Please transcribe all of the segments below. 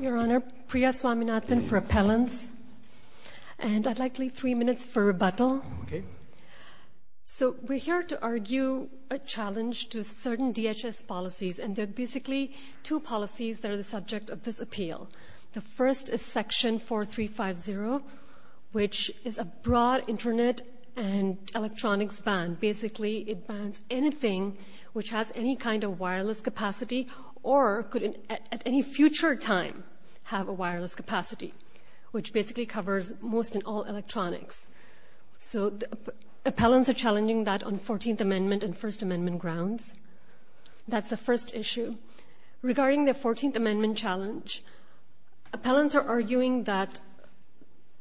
Your Honour, Priya Swaminathan for Appellants. And I'd like to leave three minutes for rebuttal. Okay. So, we're here to argue a challenge to certain DHS policies, and there are basically two policies that are the subject of this appeal. The first is Section 4350, which is a broad Internet and electronics ban. Basically, it bans anything which has any kind of wireless capacity or could at any future time have a wireless capacity, which basically covers most and all electronics. So, appellants are challenging that on 14th Amendment and First Amendment grounds. That's the first issue. Regarding the 14th Amendment challenge, appellants are arguing that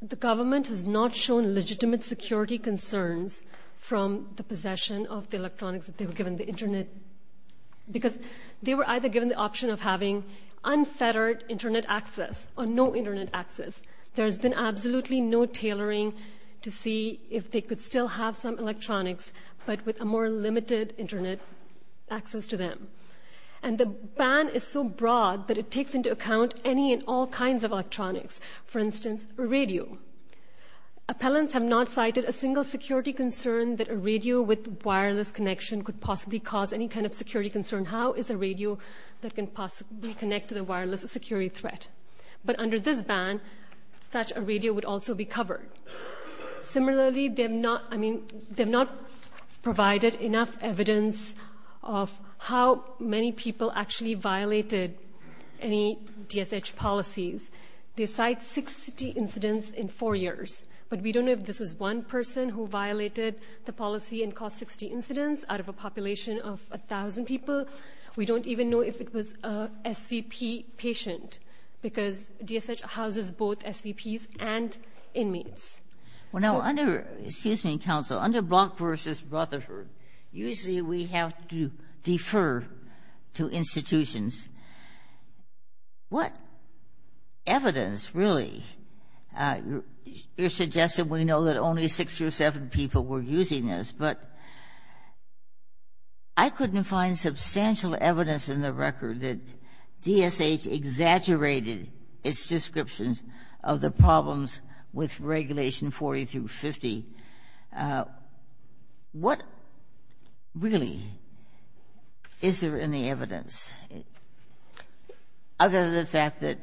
the government has not shown legitimate security concerns because they were either given the option of having unfettered Internet access or no Internet access. There's been absolutely no tailoring to see if they could still have some electronics, but with a more limited Internet access to them. And the ban is so broad that it takes into account any and all kinds of electronics, for instance, a radio. Appellants have not cited a single security concern that a radio with wireless connection could possibly cause any kind of security concern. How is a radio that can possibly connect to the wireless a security threat? But under this ban, such a radio would also be covered. Similarly, they have not provided enough evidence of how many people actually violated any DSH policies. They cite 60 incidents in four years, but we don't know if this was one person who violated the policy and caused 60 incidents out of a population of 1,000 people. We don't even know if it was a SVP patient, because DSH houses both SVPs and inmates. So — Well, now, under — excuse me, counsel. Under Block v. Rutherford, usually we have to defer to institutions. What evidence, really? You're suggesting we know that only six or seven people were using this, but I couldn't find substantial evidence in the record that DSH exaggerated its descriptions of the problems with Regulations 40 through 50. What, really, is there in the evidence, other than the fact that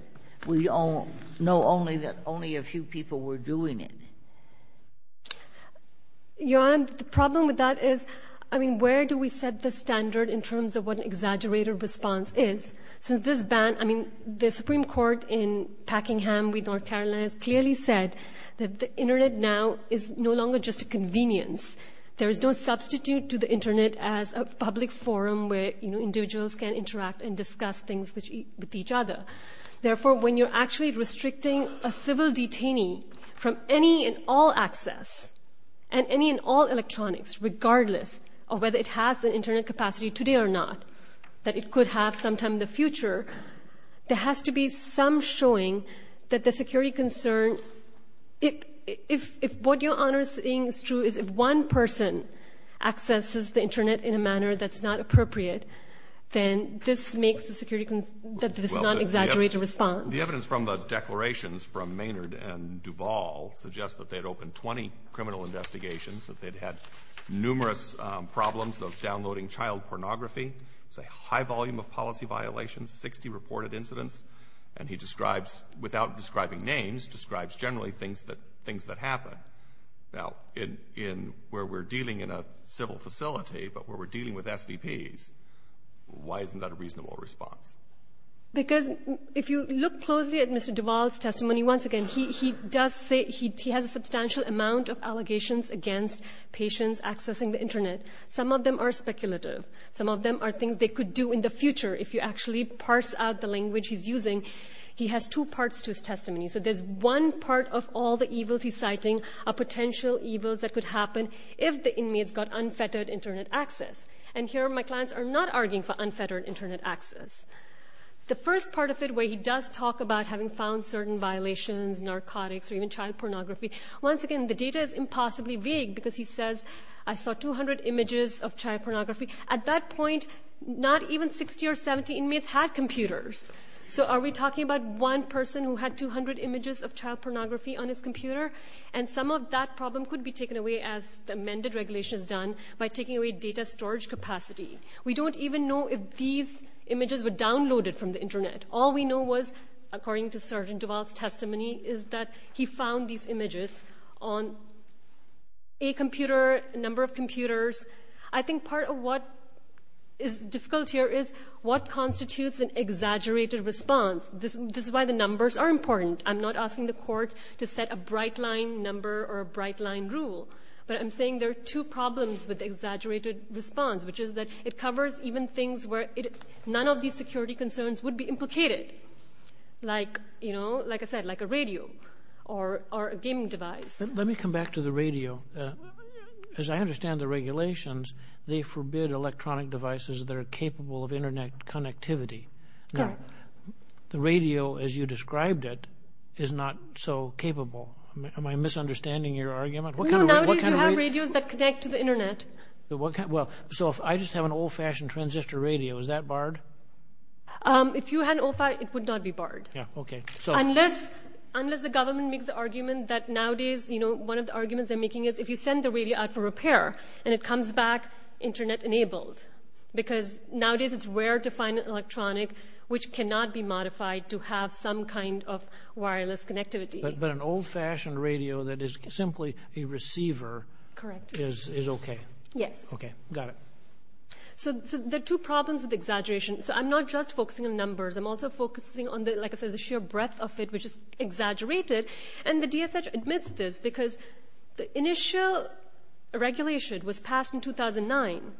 we know only that only a few people were doing it? Your Honor, the problem with that is, I mean, where do we set the standard in terms of what an exaggerated response is? Since this ban — I mean, the Supreme Court in Packingham v. North Carolina has clearly said that the Internet now is no longer just a convenience. There is no substitute to the Internet as a public forum where individuals can interact and discuss things with each other. Therefore, when you're actually restricting a civil detainee from any and all access and any and all electronics, regardless of whether it has an Internet capacity today or not, that it could have sometime in the future, there has to be some showing that the security concern — if what Your Honor is saying is true, is if one person accesses the Internet in a manner that's not appropriate, then this makes the security concern that this is not an exaggerated response. Well, the evidence from the declarations from Maynard and Duvall suggests that they'd opened 20 criminal investigations, that they'd had numerous problems of downloading child pornography. It's a high volume of policy violations, 60 reported incidents. And he describes — without describing names, describes generally things that happen. Now, in where we're dealing in a civil facility, but where we're dealing with SVPs, why isn't that a reasonable response? Because if you look closely at Mr. Duvall's testimony, once again, he does say — he has a substantial amount of allegations against patients accessing the Internet. Some of them are speculative. Some of them are things they could do in the future. If you actually parse out the language he's using, he has two parts to his testimony. So there's one part of all the evils he's citing are potential evils that could happen if the inmates got unfettered Internet access. And here my clients are not arguing for unfettered Internet access. The first part of it, where he does talk about having found certain violations, narcotics or even child pornography, once again, the data is impossibly vague because he says, I saw 200 images of child pornography. At that point, not even 60 or 70 inmates had computers. So are we talking about one person who had 200 images of child pornography on his computer? And some of that problem could be taken away, as the amended regulation has done, by taking away data storage capacity. We don't even know if these images were downloaded from the Internet. The problem for me is that he found these images on a computer, a number of computers. I think part of what is difficult here is what constitutes an exaggerated response. This is why the numbers are important. I'm not asking the court to set a bright-line number or a bright-line rule, but I'm saying there are two problems with exaggerated response, which is that it covers even things where none of these security concerns would be implicated. Like I said, like a radio or a gaming device. Let me come back to the radio. As I understand the regulations, they forbid electronic devices that are capable of Internet connectivity. The radio, as you described it, is not so capable. Am I misunderstanding your argument? No, nowadays you have radios that connect to the Internet. So if I just have an old-fashioned transistor radio, is that barred? If you had an old-fashioned, it would not be barred. Unless the government makes the argument that nowadays, one of the arguments they're making is if you send the radio out for repair and it comes back Internet-enabled, because nowadays it's rare to find an electronic which cannot be modified to have some kind of wireless connectivity. But an old-fashioned radio that is simply a receiver is okay? Yes. Okay, got it. So there are two problems with exaggeration. So I'm not just focusing on numbers. I'm also focusing on, like I said, the sheer breadth of it, which is exaggerated. And the DSH admits this because the initial regulation was passed in 2009.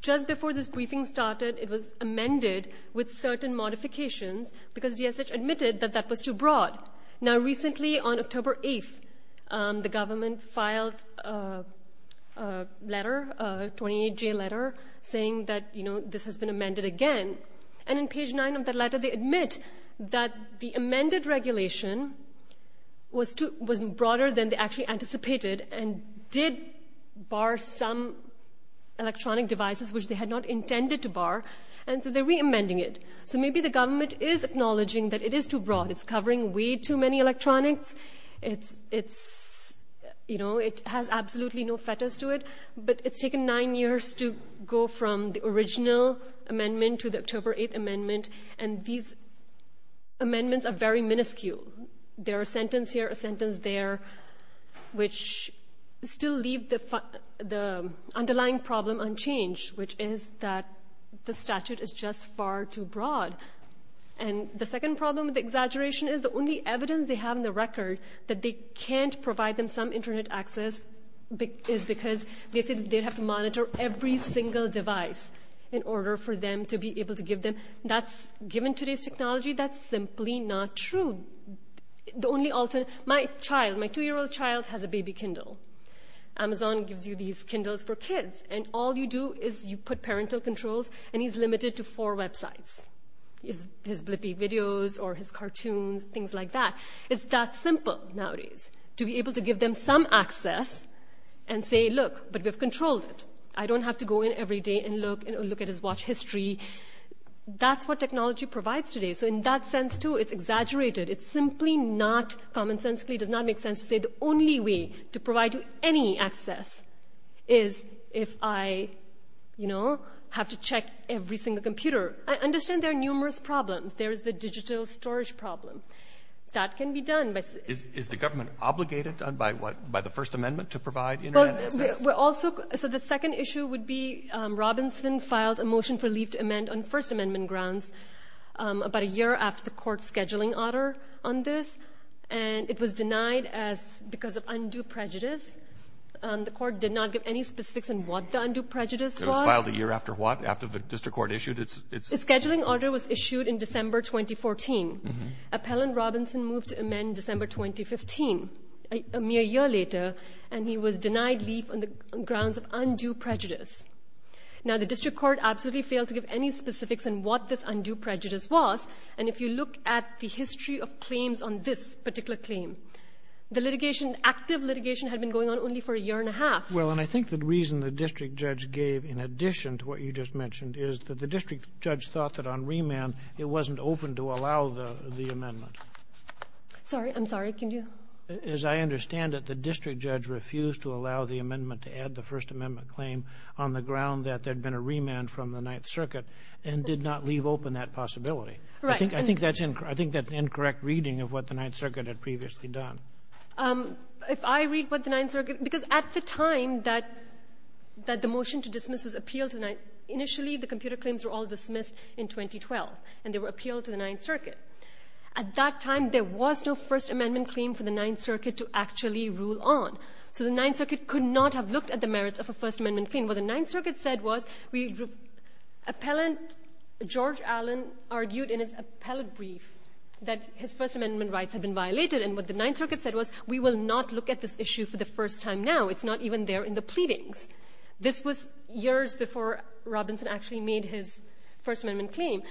Just before this briefing started, it was amended with certain modifications because DSH admitted that that was too broad. Now, recently, on October 8th, the government filed a letter, a 28-J letter, saying that this has been amended again. And on page 9 of that letter, they admit that the amended regulation was broader than they actually anticipated and did bar some electronic devices which they had not intended to bar, and so they're re-amending it. So maybe the government is acknowledging that it is too broad. It's covering way too many electronics. It has absolutely no fetters to it. But it's taken nine years to go from the original amendment to the October 8th amendment, and these amendments are very minuscule. They're a sentence here, a sentence there, which still leave the underlying problem unchanged, which is that the statute is just far too broad. And the second problem with the exaggeration is the only evidence they have in the record that they can't provide them some Internet access is because they said they'd have to monitor every single device in order for them to be able to give them. Given today's technology, that's simply not true. My two-year-old child has a baby Kindle. Amazon gives you these Kindles for kids, and all you do is you put parental controls, and he's limited to four websites, his blippy videos or his cartoons, things like that. It's that simple nowadays to be able to give them some access and say, look, but we've controlled it. I don't have to go in every day and look at his watch history. That's what technology provides today. So in that sense, too, it's exaggerated. It's simply not commonsensically, it does not make sense to say the only way to provide you any access is if I, you know, have to check every single computer. I understand there are numerous problems. There is the digital storage problem. That can be done. Is the government obligated by the First Amendment to provide Internet access? So the second issue would be Robinson filed a motion for leave to amend on First Amendment grounds about a year after the court's scheduling order on this, and it was denied because of undue prejudice. The court did not give any specifics on what the undue prejudice was. So it was filed a year after what, after the district court issued its? The scheduling order was issued in December 2014. Appellant Robinson moved to amend December 2015, a mere year later, and he was denied leave on the grounds of undue prejudice. Now, the district court absolutely failed to give any specifics on what this undue prejudice was, and if you look at the history of claims on this particular claim, the litigation, active litigation, had been going on only for a year and a half. Well, and I think the reason the district judge gave in addition to what you just mentioned is that the district judge thought that on remand it wasn't open to allow the amendment. Sorry, I'm sorry, can you? As I understand it, the district judge refused to allow the amendment to add the First Amendment claim on the ground that there had been a remand from the Ninth Circuit and did not leave open that possibility. Right. I think that's an incorrect reading of what the Ninth Circuit had previously done. If I read what the Ninth Circuit, because at the time that the motion to dismiss was appealed to the Ninth, initially the computer claims were all dismissed in 2012, and they were appealed to the Ninth Circuit. At that time, there was no First Amendment claim for the Ninth Circuit to actually rule on. So the Ninth Circuit could not have looked at the merits of a First Amendment claim. What the Ninth Circuit said was, George Allen argued in his appellate brief that his First Amendment rights had been violated, and what the Ninth Circuit said was, we will not look at this issue for the first time now. It's not even there in the pleadings. This was years before Robinson actually made his First Amendment claim.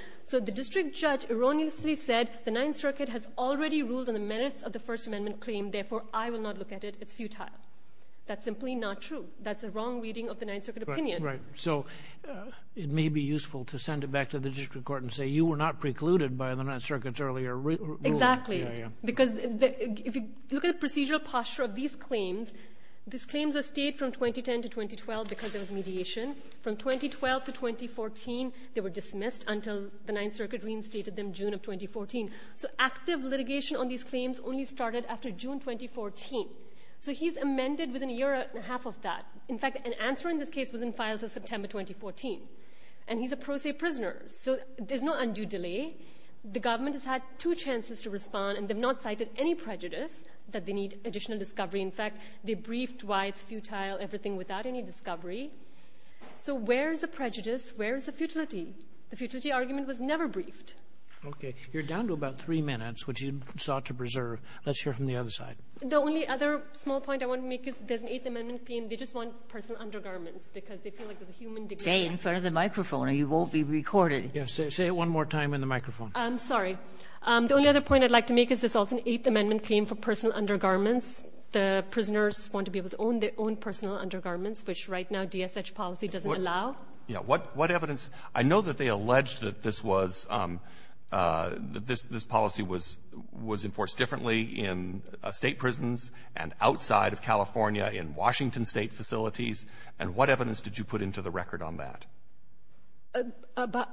That's simply not true. That's a wrong reading of the Ninth Circuit opinion. Right. So it may be useful to send it back to the district court and say, you were not precluded by the Ninth Circuit's earlier rule. Exactly. Because if you look at the procedural posture of these claims, these claims are stayed from 2010 to 2012 because there was mediation. From 2012 to 2014, they were dismissed until the Ninth Circuit reinstated them June of 2014. So active litigation on these claims only started after June 2014. So he's amended within a year and a half of that. In fact, an answer in this case was in files of September 2014, and he's a pro se prisoner. So there's no undue delay. The government has had two chances to respond, and they've not cited any prejudice that they need additional discovery. In fact, they briefed why it's futile, everything without any discovery. So where is the prejudice? Where is the futility? The futility argument was never briefed. Okay. You're down to about three minutes, which you sought to preserve. Let's hear from the other side. The only other small point I want to make is there's an Eighth Amendment claim. They just want personal undergarments because they feel like there's a human dignity. Say it in front of the microphone or you won't be recorded. Say it one more time in the microphone. I'm sorry. The only other point I'd like to make is there's also an Eighth Amendment claim for personal undergarments. The prisoners want to be able to own their own personal undergarments, which right now DSH policy doesn't allow. Yeah. What evidence? I know that they allege that this was, that this policy was enforced differently in State prisons and outside of California in Washington State facilities. And what evidence did you put into the record on that?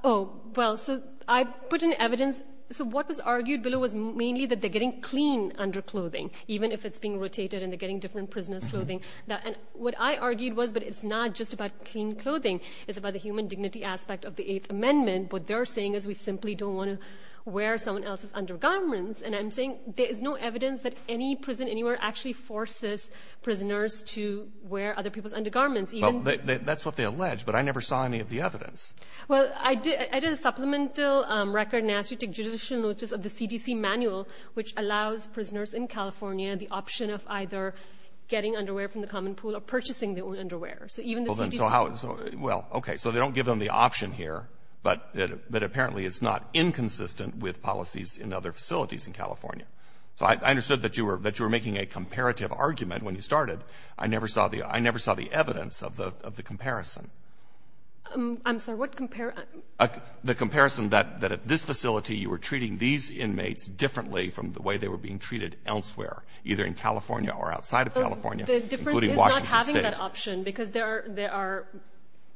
Oh, well, so I put in evidence. So what was argued below was mainly that they're getting clean underclothing, even if it's being rotated and they're getting different prisoners' clothing. And what I argued was, but it's not just about clean clothing. It's about the human dignity aspect of the Eighth Amendment. What they're saying is we simply don't want to wear someone else's undergarments. And I'm saying there is no evidence that any prison anywhere actually forces prisoners to wear other people's undergarments. Well, that's what they allege, but I never saw any of the evidence. Well, I did a supplemental record and asked you to take judicial notice of the CDC manual, which allows prisoners in California the option of either getting underwear from the common pool or purchasing their own underwear. So even the CDC. Well, okay. So they don't give them the option here, but apparently it's not inconsistent with policies in other facilities in California. So I understood that you were making a comparative argument when you started. I never saw the evidence of the comparison. I'm sorry. What comparison? The comparison that at this facility you were treating these inmates differently from the way they were being treated elsewhere, either in California or outside of California, including Washington State. The difference is not having that option, because there are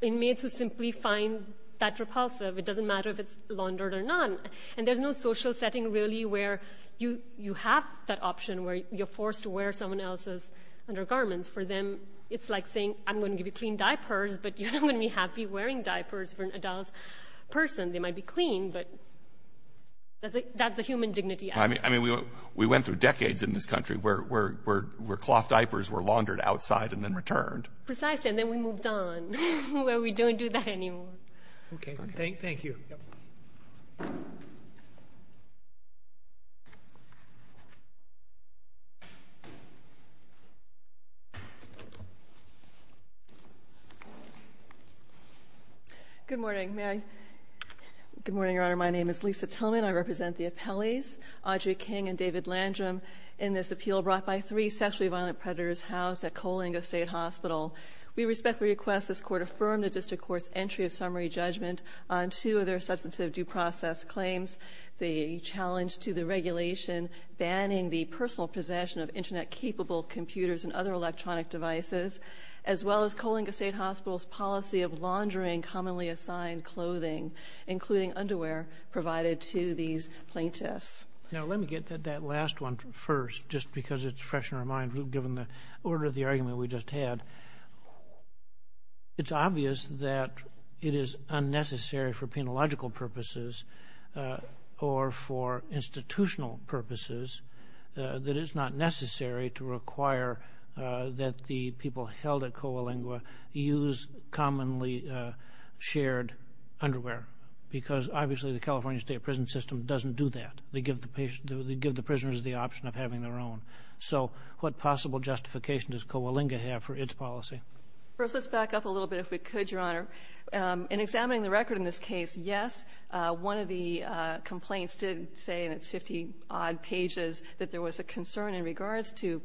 inmates who simply find that repulsive. It doesn't matter if it's laundered or not. And there's no social setting really where you have that option, where you're forced to wear someone else's undergarments. For them, it's like saying I'm going to give you clean diapers, but you're not going to be happy wearing diapers for an adult person. They might be clean, but that's a human dignity act. I mean, we went through decades in this country where cloth diapers were laundered outside and then returned. Precisely. And then we moved on, where we don't do that anymore. Okay. Thank you. Good morning. May I? Good morning, Your Honor. My name is Lisa Tillman. I represent the appellees, Audrey King and David Landrum, in this appeal brought by three sexually violent predators housed at Coalinga State Hospital. We respectfully request this Court affirm the district court's entry of summary The second case is a case in which a woman is accused of having sex with a man under substantive due process claims, the challenge to the regulation banning the personal possession of Internet-capable computers and other electronic devices, as well as Coalinga State Hospital's policy of laundering commonly assigned clothing, including underwear, provided to these plaintiffs. Now, let me get to that last one first, just because it's fresh in our mind, given the order of the argument we just had. It's obvious that it is unnecessary for penological purposes or for institutional purposes that it's not necessary to require that the people held at Coalinga use commonly shared underwear, because obviously the California State prison system doesn't do that. They give the prisoners the option of having their own. So what possible justification does Coalinga have for its policy? First, let's back up a little bit, if we could, Your Honor. In examining the record in this case, yes, one of the complaints did say in its 50-odd pages that there was a concern in regards to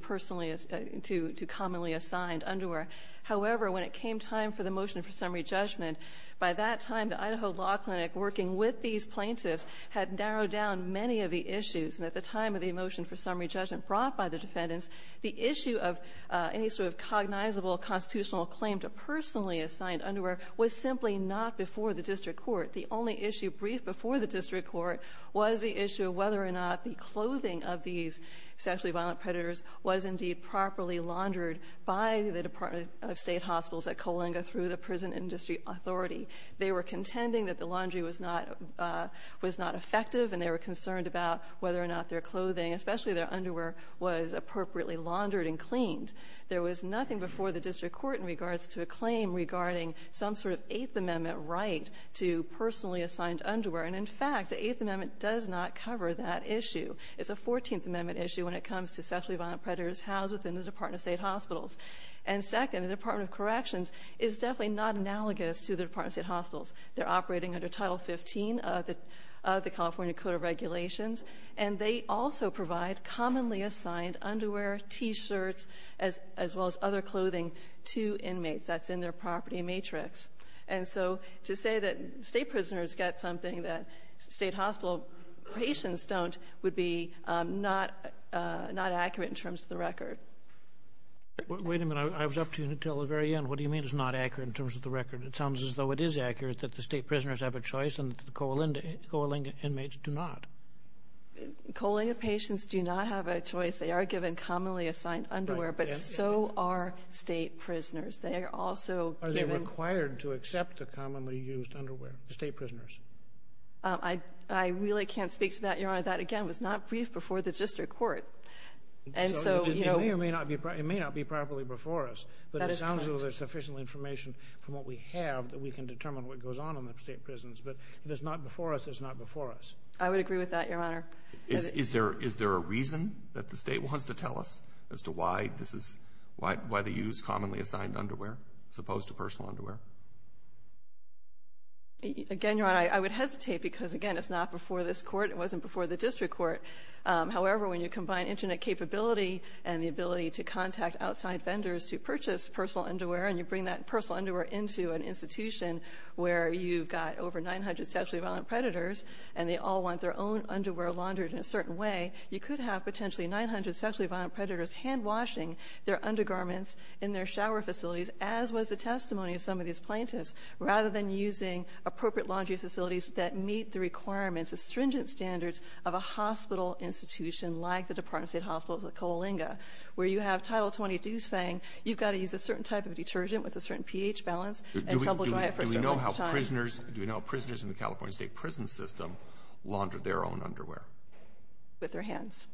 commonly assigned underwear. However, when it came time for the motion for summary judgment, by that time, the Idaho Law Clinic, working with these plaintiffs, had narrowed down many of the issues. And at the time of the motion for summary judgment brought by the defendants, the issue of any sort of cognizable constitutional claim to personally assigned underwear was simply not before the district court. The only issue briefed before the district court was the issue of whether or not the clothing of these sexually violent predators was indeed properly laundered by the Department of State Hospitals at Coalinga through the prison industry authority. They were contending that the laundry was not effective, and they were concerned about whether or not their clothing, especially their underwear, was appropriately laundered and cleaned. There was nothing before the district court in regards to a claim regarding some sort of Eighth Amendment right to personally assigned underwear. And in fact, the Eighth Amendment does not cover that issue. It's a Fourteenth Amendment issue when it comes to sexually violent predators housed within the Department of State Hospitals. And second, the Department of Corrections is definitely not analogous to the Department of State Hospitals. They're operating under Title 15 of the California Code of Regulations, and they also provide commonly assigned underwear, T-shirts, as well as other clothing to inmates. That's in their property matrix. And so to say that state prisoners get something that state hospital patients don't would be not accurate in terms of the record. Wait a minute. I was up to you until the very end. What do you mean it's not accurate in terms of the record? It sounds as though it is accurate that the state prisoners have a choice and the coaling inmates do not. Coaling patients do not have a choice. They are given commonly assigned underwear, but so are state prisoners. Are they required to accept the commonly used underwear, the state prisoners? I really can't speak to that, Your Honor. That, again, was not briefed before the district court. It may not be properly before us, but it sounds as though there's sufficient information from what we have that we can determine what goes on in the state prisons. But if it's not before us, it's not before us. I would agree with that, Your Honor. Is there a reason that the state wants to tell us as to why they use commonly assigned underwear as opposed to personal underwear? Again, Your Honor, I would hesitate because, again, it's not before this court. It wasn't before the district court. However, when you combine internet capability and the ability to contact outside vendors to purchase personal underwear and you bring that personal underwear into an institution where you've got over 900 sexually violent predators and they all want their own underwear laundered in a certain way, you could have potentially 900 sexually violent predators handwashing their undergarments in their shower facilities, as was the testimony of some of these plaintiffs, rather than using appropriate laundry facilities that meet the requirements, the stringent standards of a hospital institution like the Department of State Hospitals at Coalinga where you have Title 22 saying you've got to use a certain type of detergent with a certain pH balance and trouble dry it for a certain amount of time. Do we know how prisoners in the California state prison system launder their own underwear? With their hands.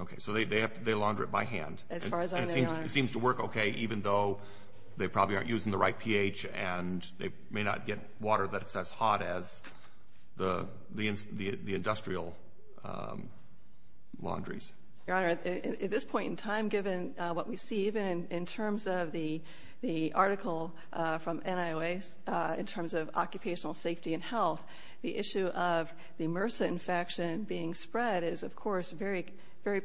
Okay, so they launder it by hand. As far as I know, Your Honor. And it seems to work okay even though they probably aren't using the right pH and they may not get water that's as hot as the industrial laundries. Your Honor, at this point in time, given what we see, even in terms of the article from NIOA in terms of occupational safety and health, the issue of the MRSA infection being spread is, of course, very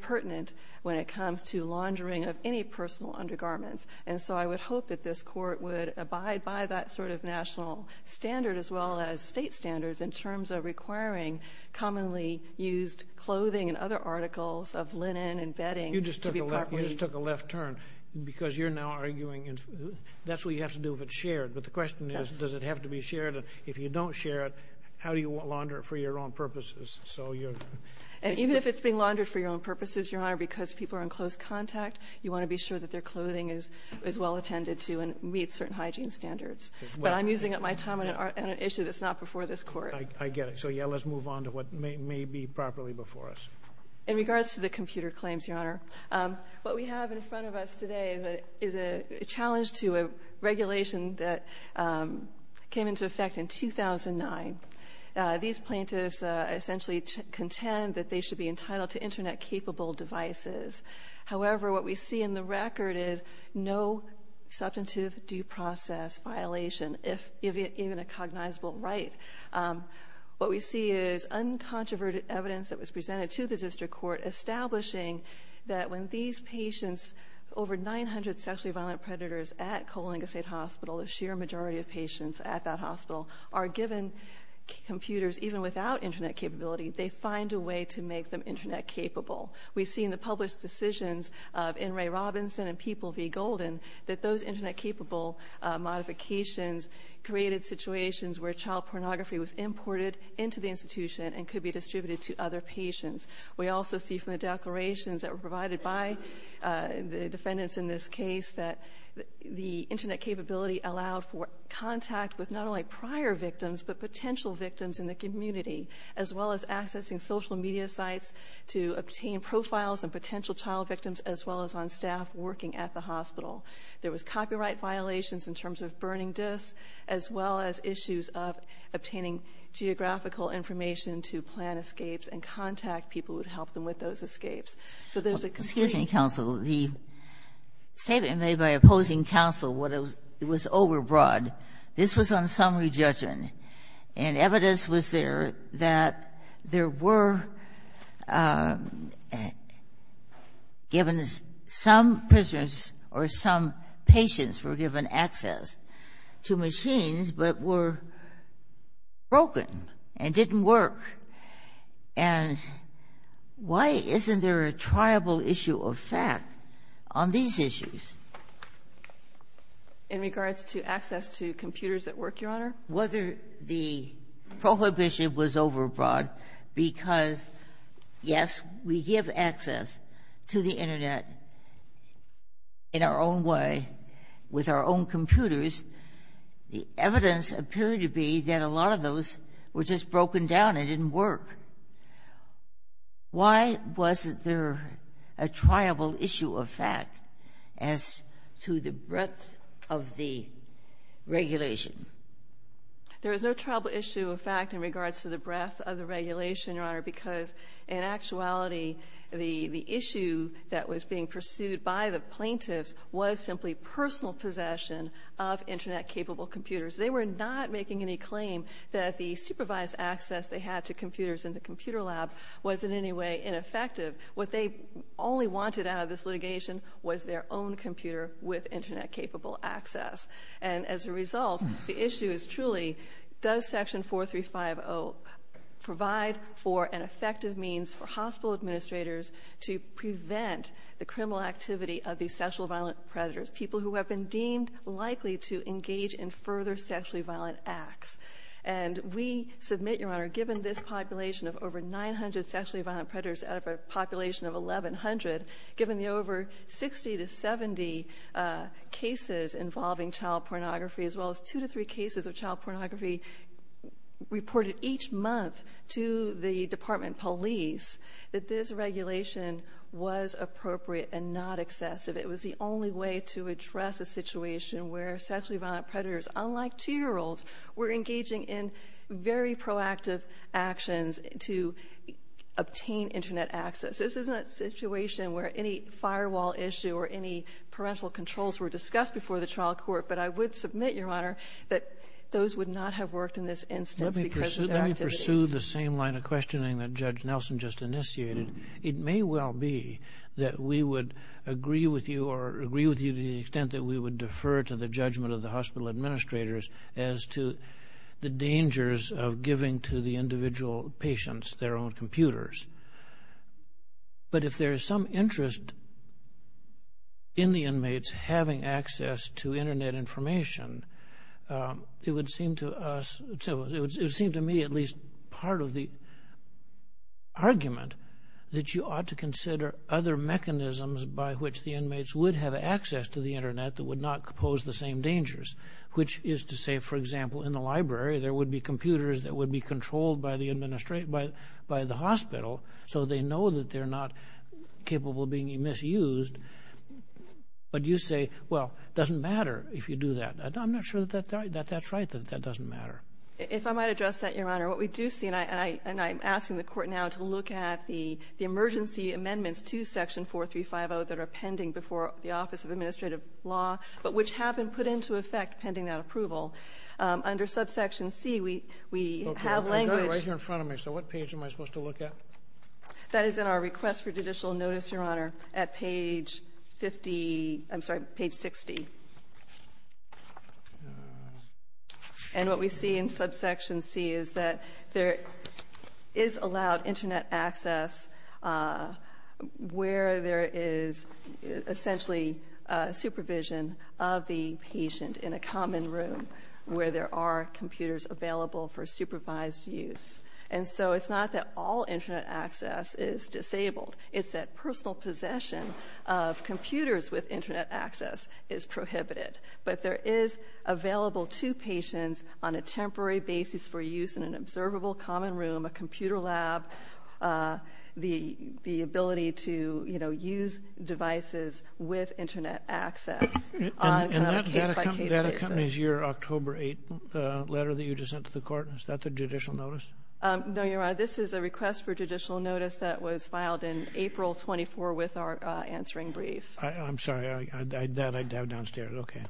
pertinent when it comes to laundering of any personal undergarments. And so I would hope that this Court would abide by that sort of national standard as well as state standards in terms of requiring commonly used clothing and other articles of linen and bedding to be properly used. You just took a left turn because you're now arguing that's what you have to do if it's shared. But the question is, does it have to be shared? If you don't share it, how do you launder it for your own purposes? And even if it's being laundered for your own purposes, Your Honor, because people are in close contact, you want to be sure that their clothing is well attended to and meets certain hygiene standards. But I'm using up my time on an issue that's not before this Court. I get it. So, yeah, let's move on to what may be properly before us. In regards to the computer claims, Your Honor, what we have in front of us today is a challenge to a regulation that came into effect in 2009. These plaintiffs essentially contend that they should be entitled to Internet-capable devices. However, what we see in the record is no substantive due process violation, if even a cognizable right. What we see is uncontroverted evidence that was presented to the District Court establishing that when these patients, over 900 sexually violent predators at Coalinga State Hospital, the sheer majority of patients at that hospital, are given computers, even without Internet capability, they find a way to make them Internet-capable. We've seen the published decisions of N. Ray Robinson and People v. Golden that those Internet-capable modifications created situations where child pornography was imported into the institution and could be distributed to other patients. We also see from the declarations that were provided by the defendants in this case that the Internet capability allowed for contact with not only prior victims but potential victims in the community, as well as accessing social media sites to obtain profiles of potential child victims, as well as on staff working at the hospital. There was copyright violations in terms of burning disks, as well as issues of obtaining geographical information to plan escapes and contact people who would help them with those escapes. So there's a complaint. Kagan. Excuse me, counsel. The statement made by opposing counsel was overbroad. This was on summary judgment. And evidence was there that there were given some prisoners or some patients were given access to machines but were broken and didn't work. And why isn't there a triable issue of fact on these issues? In regards to access to computers that work, Your Honor? Whether the prohibition was overbroad because, yes, we give access to the Internet in our own way with our own computers. The evidence appeared to be that a lot of those were just broken down and didn't work. Why wasn't there a triable issue of fact as to the breadth of the regulation? There is no triable issue of fact in regards to the breadth of the regulation, Your Honor, because, in actuality, the issue that was being pursued by the plaintiffs was simply personal possession of Internet-capable computers. They were not making any claim that the supervised access they had to computers in the computer lab was in any way ineffective. What they only wanted out of this litigation was their own computer with Internet-capable access. And, as a result, the issue is truly, does Section 4350 provide for an effective means for hospital administrators to prevent the criminal activity of these sexually violent predators, people who have been deemed likely to engage in further sexually violent acts? And we submit, Your Honor, given this population of over 900 sexually violent predators out of a population of 1,100, given the over 60 to 70 cases involving child pornography, as well as 2 to 3 cases of child pornography reported each month to the Department of Police, that this regulation was appropriate and not excessive. It was the only way to address a situation where sexually violent predators, unlike 2-year-olds, were engaging in very proactive actions to obtain Internet access. This is not a situation where any firewall issue or any parental controls were discussed before the trial court, but I would submit, Your Honor, that those would not have worked in this instance because of their activities. Let me pursue the same line of questioning that Judge Nelson just initiated. It may well be that we would agree with you or agree with you to the extent that we would defer to the judgment of the hospital administrators as to the dangers of giving to the individual patients their own computers. But if there is some interest in the inmates having access to Internet information, it would seem to me at least part of the argument that you ought to consider other mechanisms by which the inmates would have access to the Internet that would not pose the same dangers, which is to say, for example, in the library there would be computers that would be controlled by the hospital so they know that they're not capable of being misused. But you say, well, it doesn't matter if you do that. I'm not sure that that's right, that that doesn't matter. If I might address that, Your Honor, what we do see, and I'm asking the Court now to look at the emergency amendments to Section 4350 that are pending before the Office of Administrative Law, but which have been put into effect pending that approval, under subsection C we have language. Okay, I've got it right here in front of me, so what page am I supposed to look at? That is in our request for judicial notice, Your Honor, at page 50, I'm sorry, page 60. And what we see in subsection C is that there is allowed Internet access where there is essentially supervision of the patient in a common room where there are computers available for supervised use. And so it's not that all Internet access is disabled. It's that personal possession of computers with Internet access is prohibited. But there is available to patients on a temporary basis for use in an observable common room, a computer lab, the ability to use devices with Internet access on a case-by-case basis. And that accompanies your October 8th letter that you just sent to the Court. Is that the judicial notice? No, Your Honor. This is a request for judicial notice that was filed in April 24 with our answering brief. I'm sorry. That I have downstairs. Okay.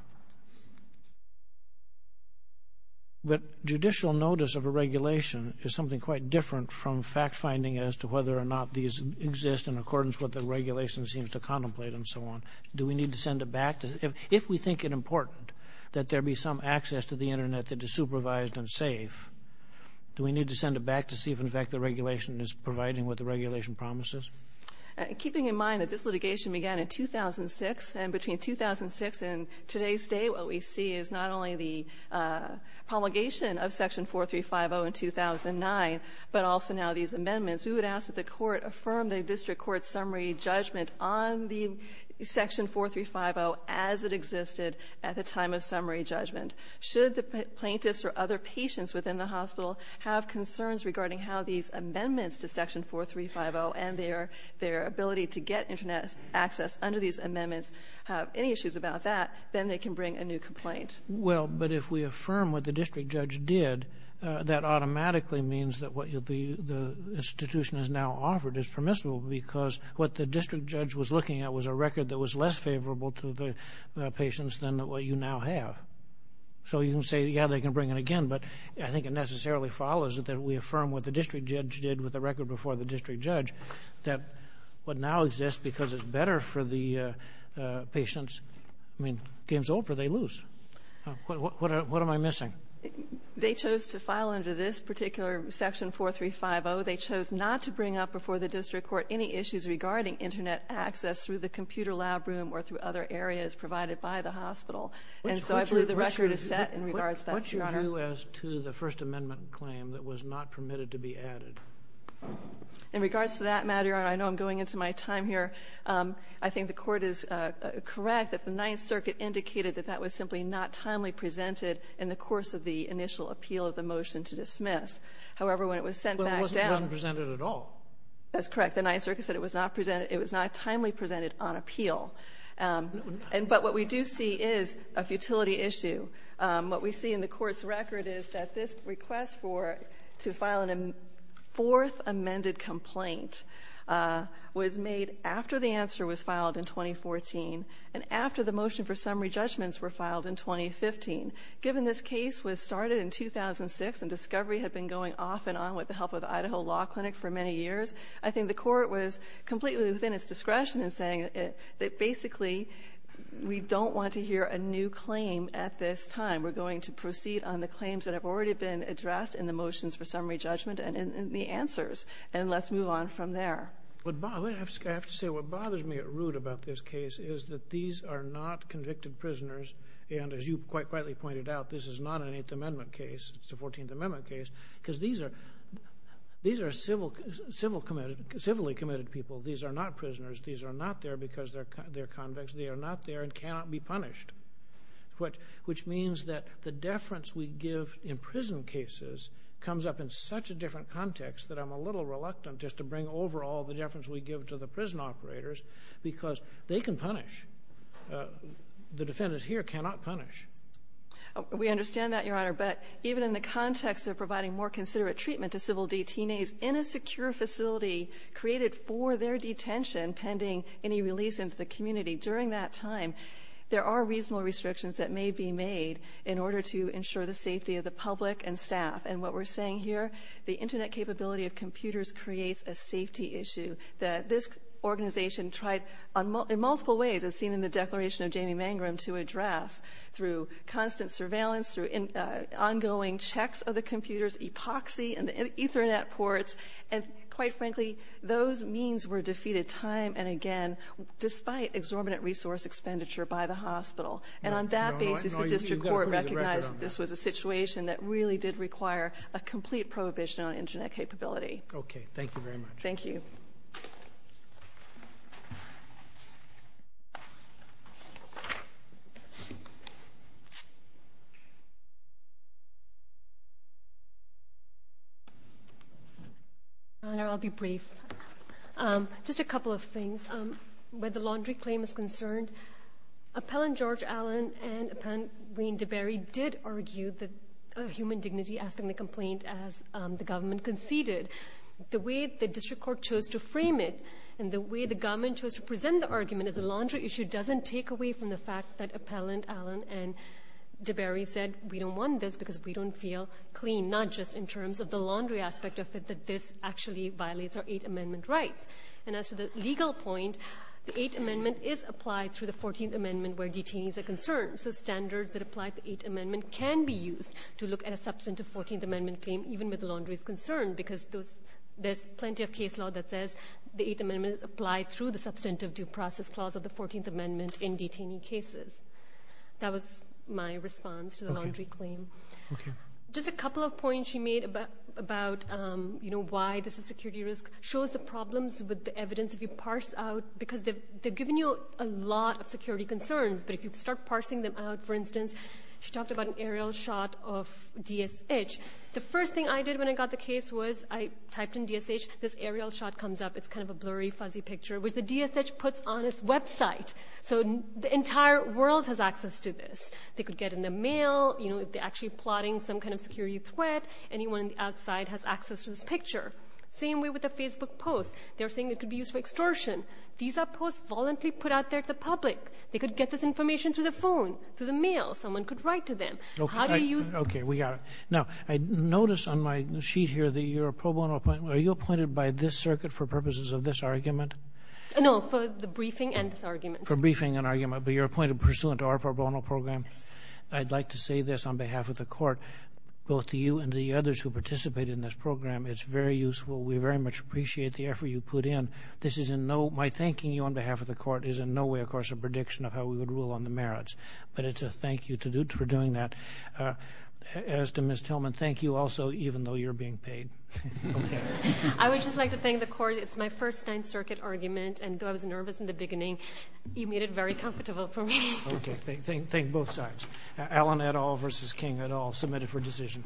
But judicial notice of a regulation is something quite different from fact-finding as to whether or not these exist in accordance with what the regulation seems to contemplate and so on. Do we need to send it back? If we think it important that there be some access to the Internet that is supervised and safe, do we need to send it back to see if, in fact, the regulation is providing what the regulation promises? Keeping in mind that this litigation began in 2006, and between 2006 and today's day what we see is not only the promulgation of Section 4350 in 2009, but also now these amendments, we would ask that the Court affirm the district court's summary judgment on the Section 4350 as it existed at the time of summary judgment. Should the plaintiffs or other patients within the hospital have concerns regarding how these amendments to Section 4350 and their ability to get Internet access under these amendments have any issues about that, then they can bring a new complaint. Well, but if we affirm what the district judge did, that automatically means that what the institution has now offered is permissible because what the district judge was looking at was a record that was less favorable to the patients than what you now have. So you can say, yeah, they can bring it again, but I think it necessarily follows that we affirm what the district judge did with the record before the district judge, that what now exists because it's better for the patients, I mean, game's over, they lose. What am I missing? They chose to file under this particular Section 4350. So they chose not to bring up before the district court any issues regarding Internet access through the computer lab room or through other areas provided by the hospital. And so I believe the record is set in regards to that, Your Honor. What's your view as to the First Amendment claim that was not permitted to be added? In regards to that matter, Your Honor, I know I'm going into my time here. I think the Court is correct that the Ninth Circuit indicated that that was simply not timely presented in the course of the initial appeal of the motion to dismiss. However, when it was sent back down. Well, it wasn't presented at all. That's correct. The Ninth Circuit said it was not timely presented on appeal. But what we do see is a futility issue. What we see in the Court's record is that this request to file a fourth amended complaint was made after the answer was filed in 2014 and after the motion for summary judgments were filed in 2015. Given this case was started in 2006 and discovery had been going off and on with the help of the Idaho Law Clinic for many years, I think the Court was completely within its discretion in saying that basically we don't want to hear a new claim at this time. We're going to proceed on the claims that have already been addressed in the motions for summary judgment and in the answers. And let's move on from there. I have to say what bothers me at root about this case is that these are not convicted prisoners. And as you quite rightly pointed out, this is not an Eighth Amendment case. It's a Fourteenth Amendment case. Because these are civilly committed people. These are not prisoners. These are not there because they're convicts. They are not there and cannot be punished. Which means that the deference we give in prison cases comes up in such a different context that I'm a little reluctant just to bring over all the deference we give to the prison operators because they can punish. The defendants here cannot punish. We understand that, Your Honor. But even in the context of providing more considerate treatment to civil detainees in a secure facility created for their detention pending any release into the community, during that time there are reasonable restrictions that may be made in order to ensure the safety of the public and staff. And what we're saying here, the Internet capability of computers creates a safety issue. This organization tried in multiple ways, as seen in the declaration of Jamie Mangrum, to address through constant surveillance, through ongoing checks of the computers, epoxy and Ethernet ports. And quite frankly, those means were defeated time and again, despite exorbitant resource expenditure by the hospital. And on that basis, the district court recognized that this was a situation that really did require a complete prohibition on Internet capability. Okay. Thank you very much. Thank you. Your Honor, I'll be brief. Just a couple of things. Where the laundry claim is concerned, Appellant George Allen and Appellant Wayne DeBerry did argue the human dignity asking the complaint as the government conceded. The way the district court chose to frame it and the way the government chose to present the argument as a laundry issue doesn't take away from the fact that Appellant Allen and DeBerry said, we don't want this because we don't feel clean, not just in terms of the laundry aspect of it, that this actually violates our Eighth Amendment rights. And as to the legal point, the Eighth Amendment is applied through the Fourteenth Amendment where detainees are concerned. So standards that apply to the Eighth Amendment can be used to look at a substantive Fourteenth Amendment claim, even with the laundry's concern because there's plenty of case law that says the Eighth Amendment is applied through the substantive due process clause of the Fourteenth Amendment in detainee cases. That was my response to the laundry claim. Okay. Just a couple of points you made about why this is a security risk shows the problems with the evidence if you parse out because they've given you a lot of security concerns, but if you start parsing them out, for instance, she talked about an aerial shot of DSH. The first thing I did when I got the case was I typed in DSH. This aerial shot comes up. It's kind of a blurry, fuzzy picture, which the DSH puts on its website. So the entire world has access to this. They could get in the mail, you know, if they're actually plotting some kind of security threat, anyone outside has access to this picture. Same way with the Facebook posts. They're saying it could be used for extortion. These are posts voluntarily put out there to the public. They could get this information through the phone, through the mail. Someone could write to them. How do you use it? I got it. Now, I notice on my sheet here that you're a pro bono appointment. Are you appointed by this circuit for purposes of this argument? No, for the briefing and this argument. For briefing and argument, but you're appointed pursuant to our pro bono program? Yes. I'd like to say this on behalf of the court, both to you and to the others who participated in this program, it's very useful. We very much appreciate the effort you put in. My thanking you on behalf of the court is in no way, of course, a prediction of how we would rule on the merits, but it's a thank you for doing that. As to Ms. Tillman, thank you also, even though you're being paid. Okay. I would just like to thank the court. It's my first Ninth Circuit argument, and though I was nervous in the beginning, you made it very comfortable for me. Okay. Thank both sides. Alan et al. versus King et al. Submit it for decision.